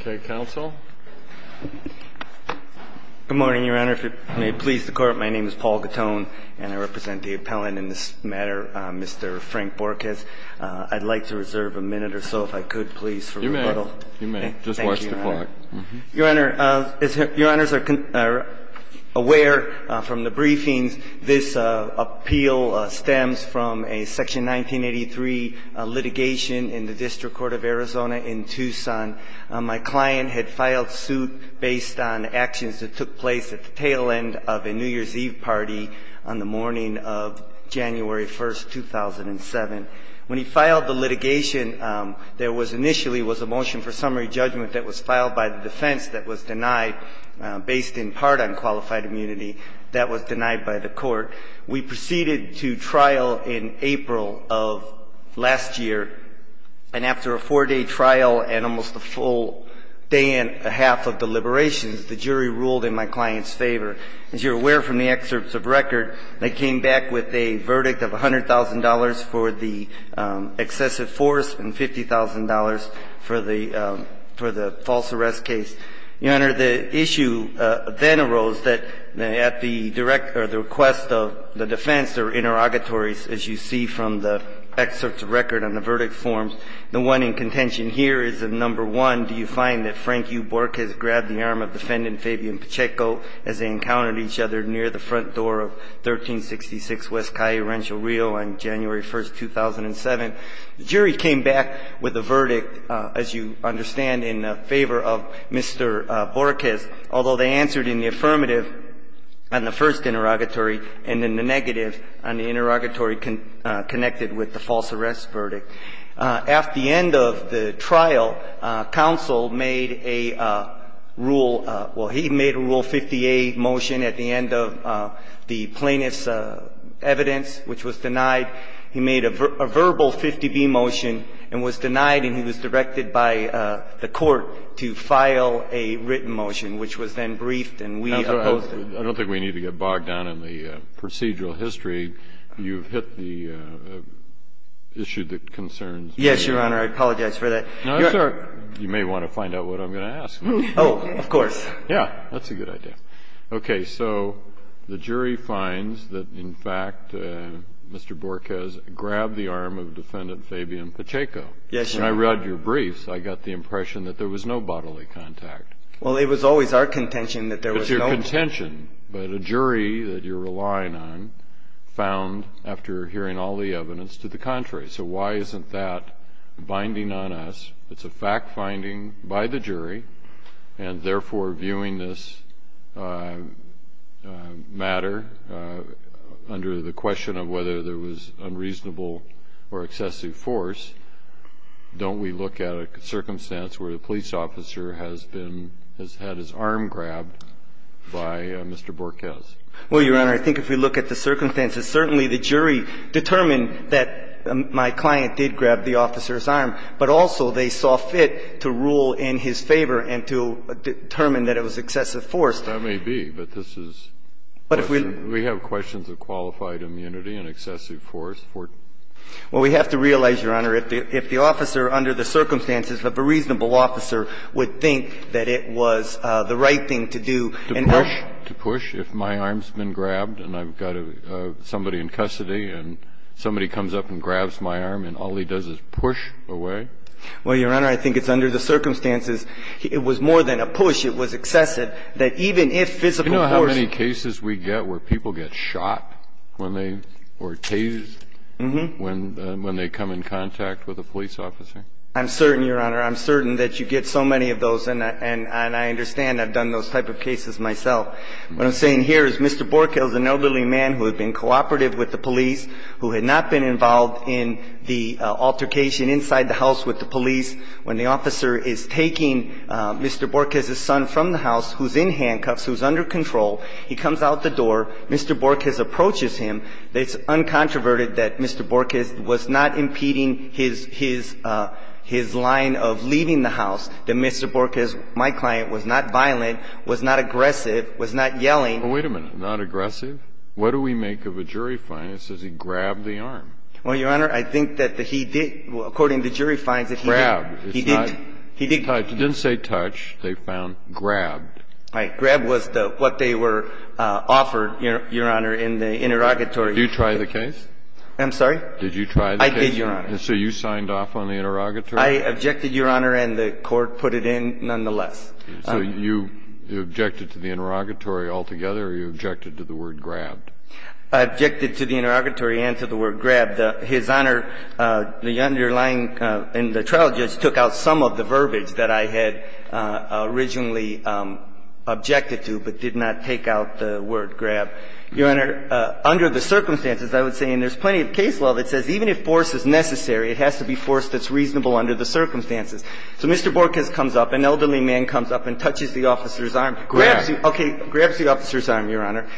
Okay, counsel. Good morning, Your Honor. If it may please the Court, my name is Paul Gattone, and I represent the appellant in this matter, Mr. Frank Borquez. I'd like to reserve a minute or so, if I could, please, for rebuttal. You may. You may. Just watch the clock. Your Honor, as Your Honors are aware from the briefings, this appeal stems from a Section 1983 litigation in the District Court of Arizona in Tucson. My client had filed suit based on actions that took place at the tail end of a New Year's Eve party on the morning of January 1, 2007. When he filed the litigation, there was initially was a motion for summary judgment that was filed by the defense that was denied, based in part on qualified immunity that was denied by the Court. We proceeded to trial in April of last year, and after a four-day trial and almost a full day and a half of deliberations, the jury ruled in my client's favor. As you're aware from the excerpts of record, they came back with a verdict of $100,000 for the excessive force and $50,000 for the false arrest case. Your Honor, the issue then arose that at the request of the defense, there were interrogatories, as you see from the excerpts of record and the verdict forms. The one in contention here is that, number one, do you find that Frank U. Borquez grabbed the arm of Defendant Fabian Pacheco as they encountered each other near the front door of 1366 West Caye Rancho Rio on January 1, 2007. The jury came back with a verdict, as you understand, in favor of Mr. Borquez, although they answered in the affirmative on the first interrogatory and in the negative on the interrogatory connected with the false arrest verdict. At the end of the trial, counsel made a rule – well, he made a Rule 50A motion at the end of the plaintiff's evidence, which was denied. He made a verbal 50B motion and was denied, and he was directed by the court to file a written motion, which was then briefed and we opposed it. I don't think we need to get bogged down in the procedural history. You've hit the issue that concerns me. Yes, Your Honor. I apologize for that. You may want to find out what I'm going to ask. Oh, of course. Yeah. That's a good idea. Okay. So the jury finds that, in fact, Mr. Borquez grabbed the arm of Defendant Fabian Pacheco. Yes, Your Honor. When I read your briefs, I got the impression that there was no bodily contact. Well, it was always our contention that there was no – No contention, but a jury that you're relying on found, after hearing all the evidence, to the contrary. So why isn't that binding on us? It's a fact-finding by the jury, and therefore, viewing this matter under the question of whether there was unreasonable or excessive force, don't we look at a circumstance where the police officer has been – has had his arm grabbed by Mr. Borquez? Well, Your Honor, I think if we look at the circumstances, certainly the jury determined that my client did grab the officer's arm, but also they saw fit to rule in his favor and to determine that it was excessive force. That may be, but this is – But if we – We have questions of qualified immunity and excessive force. Well, we have to realize, Your Honor, if the officer under the circumstances of a reasonable officer would think that it was the right thing to do and – To push? To push if my arm's been grabbed and I've got somebody in custody and somebody comes up and grabs my arm and all he does is push away? Well, Your Honor, I think it's under the circumstances. It was more than a push. It was excessive that even if physical force – I'm not saying that Mr. Borquez would have been involved in the altercation inside the house with the police. If Mr. Borquez had been involved in the altercation inside the house with the police, he would not have been the one to be held accountable for the fact that he had been grabbed by Mr. Borquez. He would have been held accountable for the fact that he had been grabbed by Mr. Borquez. Could you explain how that's possible, though, when they come in contact with a police officer? I think that Mr. Borquez was not impeding his line of leaving the house. That Mr. Borquez, my client, was not violent, was not aggressive, was not yelling. Wait a minute. Not aggressive? What do we make of a jury find that says he grabbed the arm? Well, Your Honor, I think that he did. According to the jury finds that he did. Grabbed. He didn't touch. He didn't say touch. They found grabbed. Right. Grabbed was what they were offered, Your Honor, in the interrogatory. Did you try the case? I'm sorry? Did you try the case? I did, Your Honor. So you signed off on the interrogatory? I objected, Your Honor, and the court put it in nonetheless. So you objected to the interrogatory altogether or you objected to the word grabbed? I objected to the interrogatory and to the word grabbed. His Honor, the underlying and the trial judge took out some of the verbiage that I had originally objected to but did not take out the word grabbed. Your Honor, under the circumstances, I would say, and there's plenty of case law that says even if force is necessary, it has to be force that's reasonable under the circumstances. So Mr. Borges comes up, an elderly man comes up and touches the officer's arm. Grabbed. Okay. Grabs the officer's arm, Your Honor.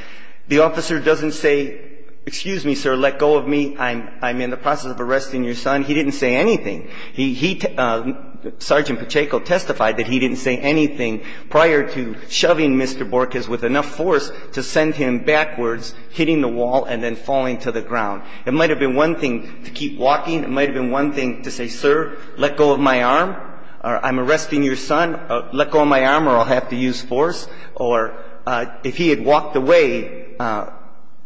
The officer doesn't say, excuse me, sir, let go of me. I'm in the process of arresting your son. He didn't say anything. He – Sergeant Pacheco testified that he didn't say anything prior to shoving Mr. Borges with enough force to send him backwards, hitting the wall and then falling to the ground. It might have been one thing to keep walking. It might have been one thing to say, sir, let go of my arm or I'm arresting your son. Let go of my arm or I'll have to use force. Or if he had walked away,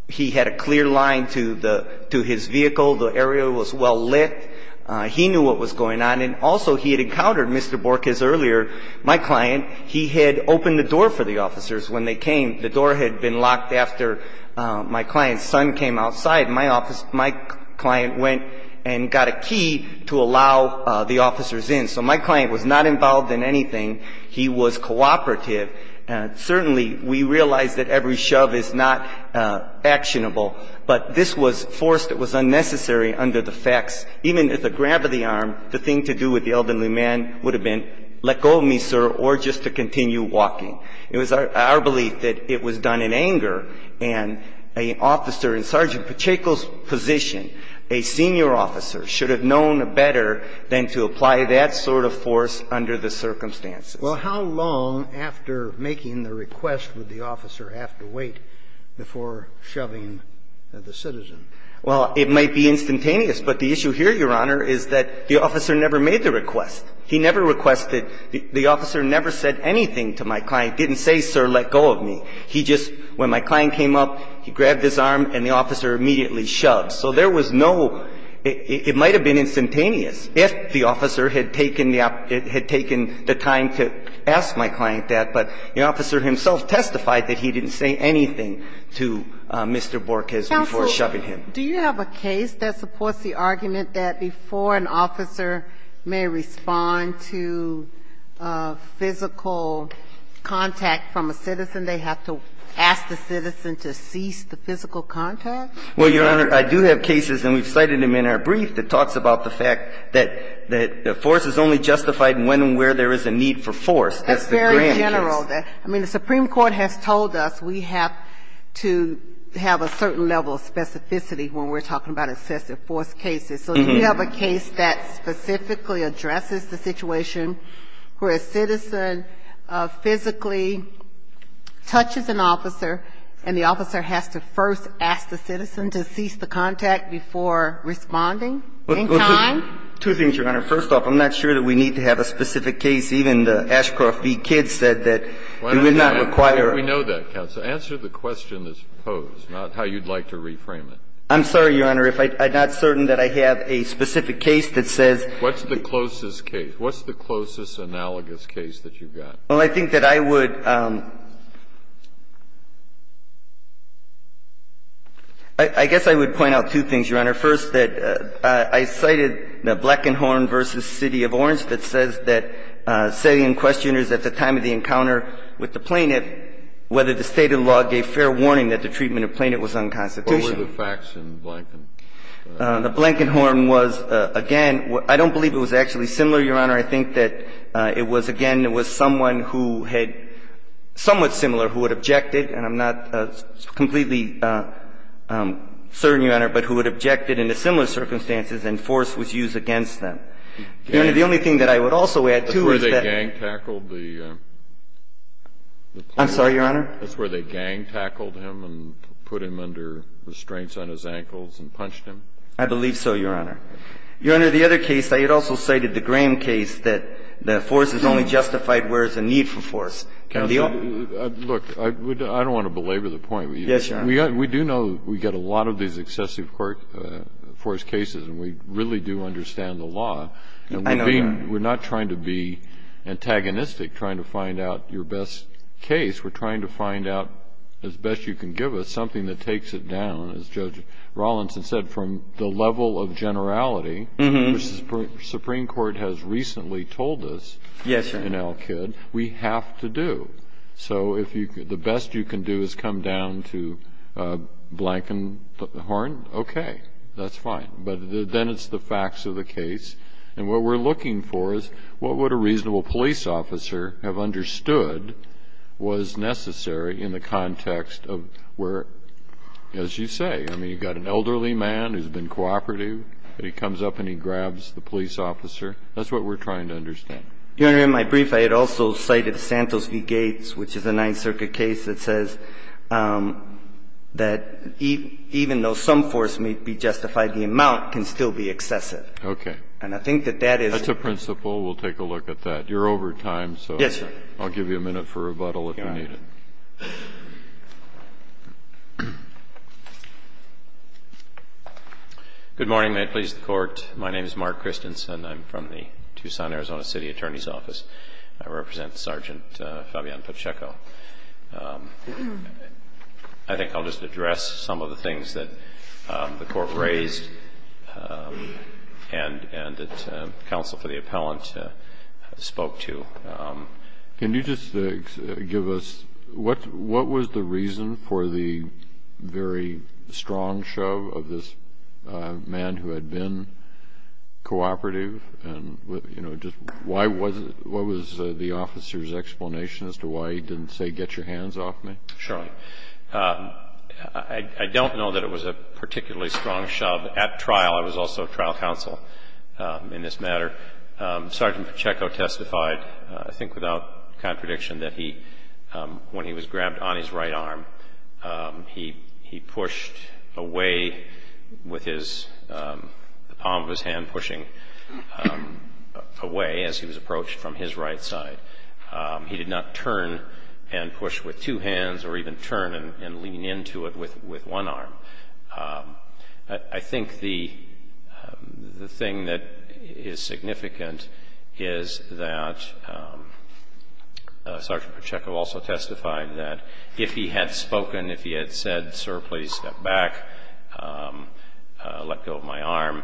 he had a clear line to the – to his vehicle. The area was well lit. He knew what was going on. And also he had encountered Mr. Borges earlier, my client. He had opened the door for the officers when they came. The door had been locked after my client's son came outside. My office – my client went and got a key to allow the officers in. So my client was not involved in anything. He was cooperative. Certainly, we realize that every shove is not actionable. But this was force that was unnecessary under the facts. Even if a grab of the arm, the thing to do with the elderly man would have been let go of me, sir, or just to continue walking. It was our belief that it was done in anger. And an officer in Sergeant Pacheco's position, a senior officer, should have known better than to apply that sort of force under the circumstances. Well, how long after making the request would the officer have to wait before shoving the citizen? Well, it might be instantaneous. But the issue here, Your Honor, is that the officer never made the request. He never requested – the officer never said anything to my client, didn't say, sir, let go of me. He just – when my client came up, he grabbed his arm and the officer immediately shoved. So there was no – it might have been instantaneous if the officer had taken the – had taken the time to ask my client that. But the officer himself testified that he didn't say anything to Mr. Borges before shoving him. Do you have a case that supports the argument that before an officer may respond to physical contact from a citizen, they have to ask the citizen to cease the physical contact? Well, Your Honor, I do have cases, and we've cited them in our brief, that talks about the fact that force is only justified when and where there is a need for force. That's the grand case. That's very general. I mean, the Supreme Court has told us we have to have a certain level of specificity when we're talking about excessive force cases. So do you have a case that specifically addresses the situation where a citizen physically touches an officer and the officer has to first ask the citizen to cease the contact before responding in time? Well, two things, Your Honor. First off, I'm not sure that we need to have a specific case. Even the Ashcroft v. Kidd said that it would not require a force contact. Why don't we know that, counsel? Answer the question that's posed, not how you'd like to reframe it. I'm sorry, Your Honor, if I'm not certain that I have a specific case that says the What's the closest case? What's the closest analogous case that you've got? Well, I think that I would – I guess I would point out two things, Your Honor. First, that I cited the Blankenhorn v. City of Orange that says that setting questioners at the time of the encounter with the plaintiff whether the State of the law gave fair warning that the treatment of plaintiff was unconstitutional. What were the facts in Blankenhorn? The Blankenhorn was, again, I don't believe it was actually similar, Your Honor. I think that it was, again, it was someone who had – somewhat similar who had objected and I'm not completely certain, Your Honor, but who had objected in a similar circumstances and force was used against them. Your Honor, the only thing that I would also add to is that – That's where they gang-tackled the plaintiff? I'm sorry, Your Honor? That's where they gang-tackled him and put him under restraints on his ankles and punched him? I believe so, Your Honor. Your Honor, the other case, I had also cited the Graham case that the force is only justified where there's a need for force. Counsel, look, I don't want to belabor the point. Yes, Your Honor. We do know we get a lot of these excessive force cases and we really do understand the law. I know that. We're not trying to be antagonistic, trying to find out your best case. We're trying to find out, as best you can give us, something that takes it down. As Judge Rawlinson said, from the level of generality, which the Supreme Court has recently told us in Al-Kid, we have to do. So if the best you can do is come down to a blanken horn, okay, that's fine. But then it's the facts of the case. And what we're looking for is what would a reasonable police officer have understood was necessary in the context of where, as you say, I mean, you've got an elderly man who's been cooperative, but he comes up and he grabs the police officer. That's what we're trying to understand. Your Honor, in my brief, I had also cited Santos v. Gates, which is a Ninth Circuit case that says that even though some force may be justified, the amount can still be excessive. Okay. And I think that that is the principle. We'll take a look at that. You're over time, so. Yes, sir. I'll give you a minute for rebuttal if you need it. Good morning. May it please the Court. My name is Mark Christensen. I'm from the Tucson, Arizona, City Attorney's Office. I represent Sergeant Fabian Pacheco. I think I'll just address some of the things that the Court raised and that counsel for the appellant spoke to. Can you just give us what was the reason for the very strong shove of this man who had been cooperative? And, you know, just why was it? What was the officer's explanation as to why he didn't say, get your hands off me? Sure. I don't know that it was a particularly strong shove at trial. I was also trial counsel in this matter. Sergeant Pacheco testified, I think without contradiction, that when he was grabbed on his right arm, he pushed away with the palm of his hand pushing away as he was approached from his right side. He did not turn and push with two hands or even turn and lean into it with one arm. I think the thing that is significant is that Sergeant Pacheco also testified that if he had spoken, if he had said, sir, please step back, let go of my arm,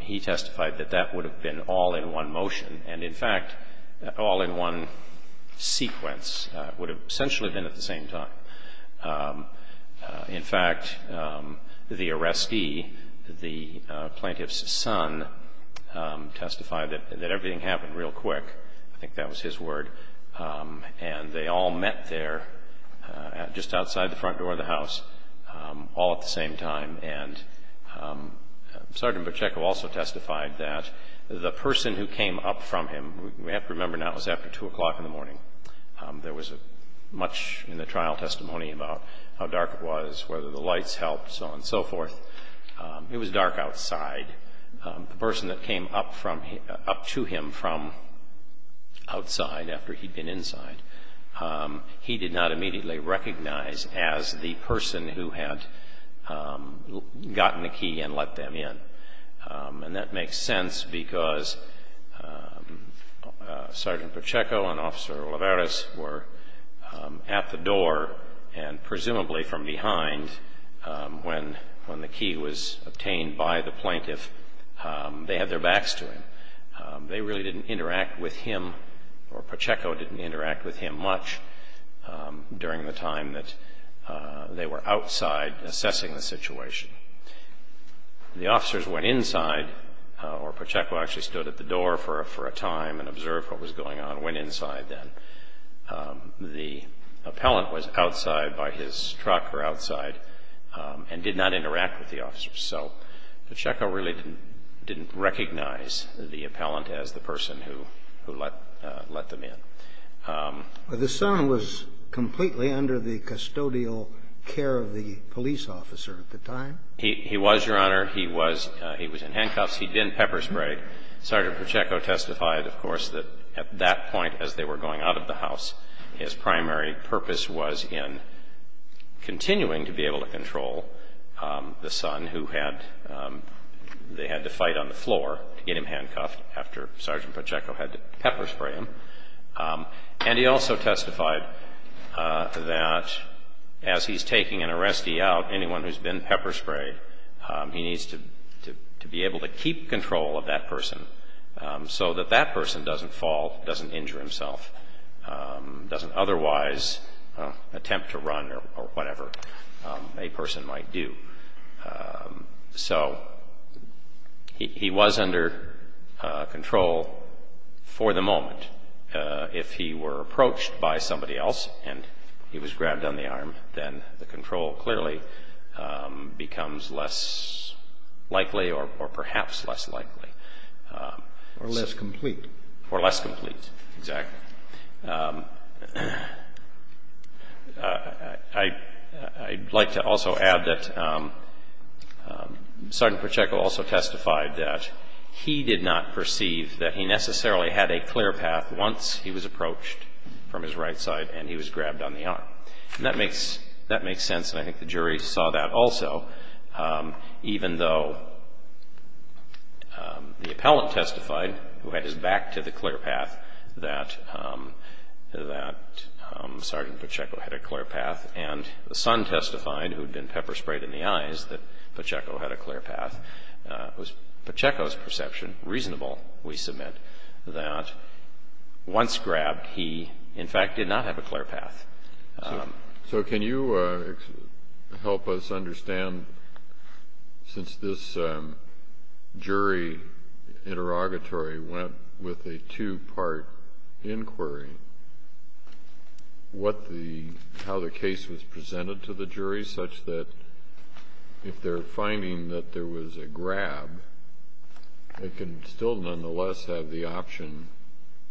he testified that that would have been all in one motion. And, in fact, all in one sequence would have essentially been at the same time. In fact, the arrestee, the plaintiff's son, testified that everything happened real quick. I think that was his word. And they all met there just outside the front door of the house all at the same time. And Sergeant Pacheco also testified that the person who came up from him, we have to remember now it was after 2 o'clock in the morning. There was much in the trial testimony about how dark it was, whether the lights helped, so on and so forth. It was dark outside. The person that came up to him from outside after he'd been inside, he did not immediately recognize as the person who had gotten the key and let them in. And that makes sense because Sergeant Pacheco and Officer Olivares were at the door and presumably from behind when the key was obtained by the plaintiff. They had their backs to him. They really didn't interact with him or Pacheco didn't interact with him much during the time that they were outside assessing the situation. The officers went inside or Pacheco actually stood at the door for a time and observed what was going on, went inside then. The appellant was outside by his truck or outside and did not interact with the officers. So Pacheco really didn't recognize the appellant as the person who let them in. The son was completely under the custodial care of the police officer at the time? He was, Your Honor. He was in handcuffs. He didn't pepper spray. Sergeant Pacheco testified, of course, that at that point as they were going out of the house, his primary purpose was in continuing to be able to control the son who had to fight on the floor to get him handcuffed after Sergeant Pacheco had to pepper spray him. And he also testified that as he's taking an arrestee out, anyone who's been pepper sprayed, he needs to be able to keep control of that person so that that person doesn't fall, doesn't injure himself, doesn't otherwise attempt to run or whatever a person might do. So he was under control for the moment. If he were approached by somebody else and he was grabbed on the arm, then the control clearly becomes less likely or perhaps less likely. Or less complete. Or less complete, exactly. I'd like to also add that Sergeant Pacheco also testified that he did not perceive that he necessarily had a clear path once he was approached from his right side and he was grabbed on the arm. And that makes sense, and I think the jury saw that also, even though the appellant testified, who had his back to the clear path, that Sergeant Pacheco had a clear path. And the son testified, who had been pepper sprayed in the eyes, that Pacheco had a clear path. It was Pacheco's perception, reasonable, we submit, that once grabbed he, in fact, did not have a clear path. So can you help us understand, since this jury interrogatory went with a two-part inquiry, how the case was presented to the jury, such that if they're finding that there was a grab, they can still nonetheless have the option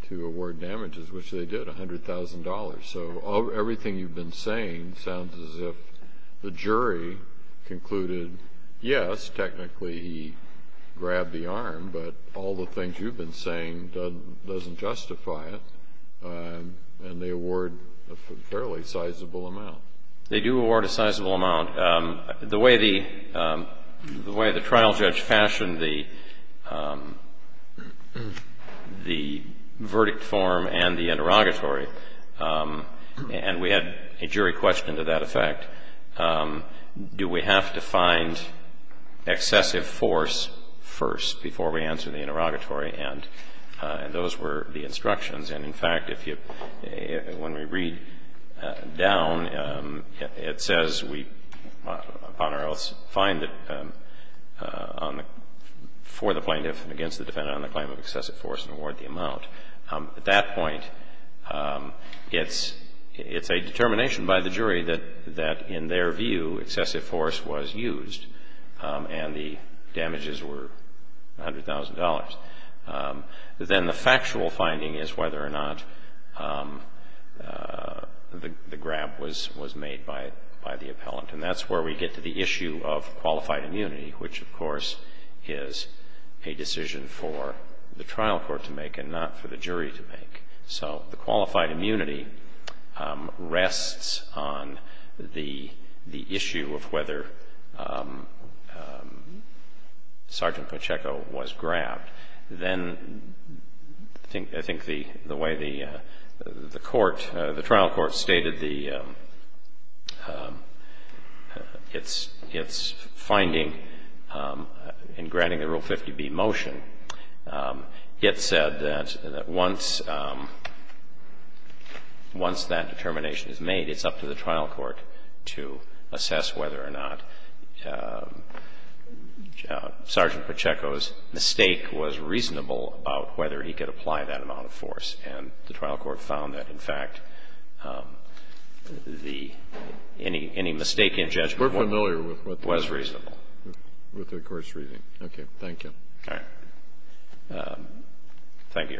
to award damages, which they did, $100,000. So everything you've been saying sounds as if the jury concluded, yes, technically he grabbed the arm, but all the things you've been saying doesn't justify it, and they award a fairly sizable amount. They do award a sizable amount. The way the trial judge fashioned the verdict form and the interrogatory, and we had a jury question to that effect, do we have to find excessive force first before we answer the interrogatory? And those were the instructions. And, in fact, if you, when we read down, it says we, upon our oaths, find that for the plaintiff and against the defendant on the claim of excessive force and award the amount. At that point, it's a determination by the jury that, in their view, excessive force was used and the damages were $100,000. Then the factual finding is whether or not the grab was made by the appellant. And that's where we get to the issue of qualified immunity, which, of course, is a decision for the trial court to make and not for the jury to make. So the qualified immunity rests on the issue of whether Sergeant Pacheco was grabbed. Then I think the way the trial court stated its finding in granting the Rule 50B motion, it said that once that determination is made, it's up to the trial court to assess whether or not Sergeant Pacheco's mistake was reasonable about whether he could apply that amount of force. And the trial court found that, in fact, the any mistake in judgment was reasonable. And that's the way the trial court said it was reasonable. And I think that's the way the trial court said it was reasonable with the course reading. Okay. Thank you. Thank you,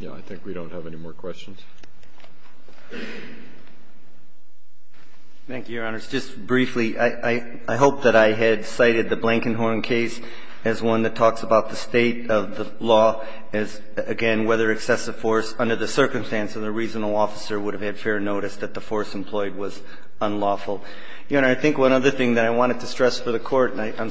Your Honor. I think we don't have any more questions. Thank you, Your Honors. Just briefly, I hope that I had cited the Blankenhorn case as one that talks about the state of the law as, again, whether excessive force under the circumstance of the reasonable officer would have had fair notice that the force employed was unlawful. Your Honor, I think one other thing that I wanted to stress for the Court, and I'm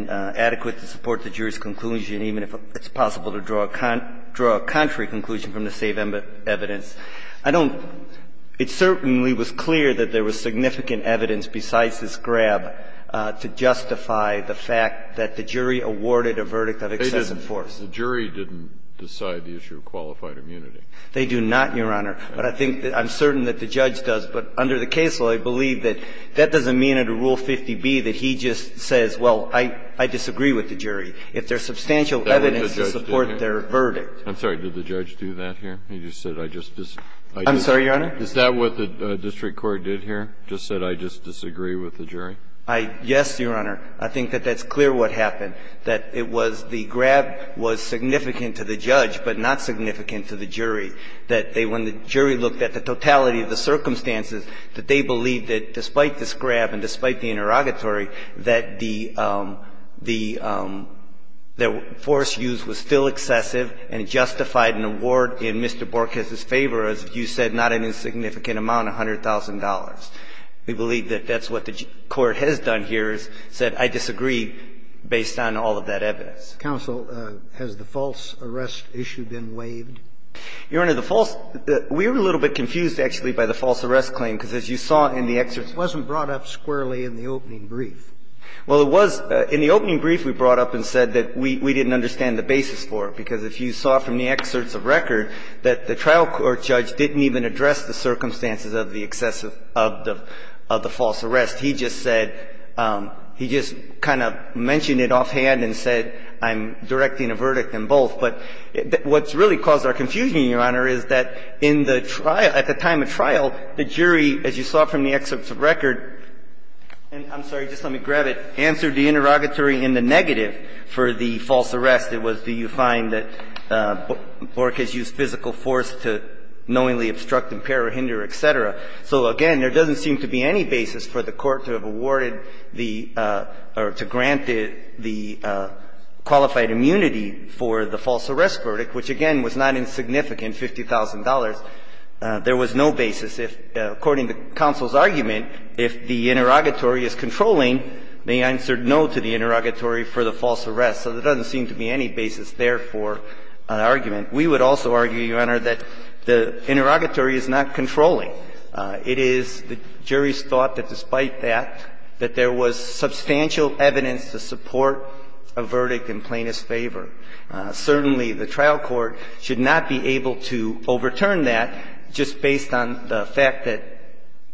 and adequate to support the jury's conclusion, even if it's possible to draw a contrary conclusion from the same evidence. I don't – it certainly was clear that there was significant evidence besides this grab to justify the fact that the jury awarded a verdict of excessive force. They didn't. The jury didn't decide the issue of qualified immunity. They do not, Your Honor. But I think that – I'm certain that the judge does. But under the case law, I believe that that doesn't mean under Rule 50B that he just says, well, I disagree with the jury. If there's substantial evidence to support their verdict. I'm sorry. Did the judge do that here? He just said, I just disagree. I'm sorry, Your Honor? Is that what the district court did here? Just said, I just disagree with the jury? Yes, Your Honor. I think that that's clear what happened, that it was the grab was significant to the judge, but not significant to the jury. That they – when the jury looked at the totality of the circumstances, that they believed that despite this grab and despite the interrogatory, that the – that force used was still excessive and justified an award in Mr. Borges' favor, as you said, not an insignificant amount, $100,000. We believe that that's what the court has done here, is said, I disagree, based on all of that evidence. Counsel, has the false arrest issue been waived? Your Honor, the false – we were a little bit confused, actually, by the false arrest claim, because as you saw in the excerpt. It wasn't brought up squarely in the opening brief. Well, it was – in the opening brief, we brought up and said that we didn't understand the basis for it, because if you saw from the excerpts of record that the trial court judge didn't even address the circumstances of the excessive – of the false arrest. He just said – he just kind of mentioned it offhand and said, I'm directing a verdict in both. But what's really caused our confusion, Your Honor, is that in the trial – at the time of trial, the jury, as you saw from the excerpts of record – and I'm sorry, just let me grab it – answered the interrogatory in the negative for the false arrest. It was, do you find that Borges used physical force to knowingly obstruct, impair, or hinder, et cetera. So again, there doesn't seem to be any basis for the court to have awarded the – or to grant the qualified immunity for the false arrest verdict, which, again, was not insignificant, $50,000. There was no basis. According to counsel's argument, if the interrogatory is controlling, they answered no to the interrogatory for the false arrest. So there doesn't seem to be any basis there for an argument. We would also argue, Your Honor, that the interrogatory is not controlling. It is the jury's thought that despite that, that there was substantial evidence to support a verdict in plaintiff's favor. Certainly, the trial court should not be able to overturn that just based on the fact that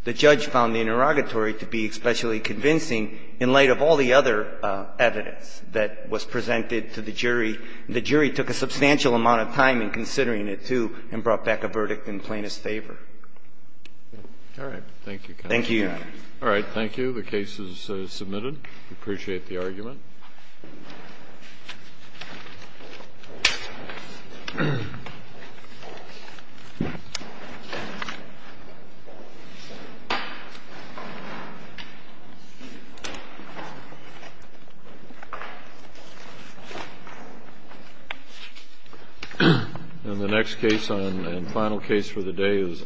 the judge found the interrogatory to be especially convincing in light of all the other evidence that was presented to the jury. The jury took a substantial amount of time in considering it, too, and brought back a verdict in plaintiff's favor. All right. Thank you, counsel. Thank you, Your Honor. All right. Thank you. The case is submitted. We appreciate the argument. And the next case and final case for the day is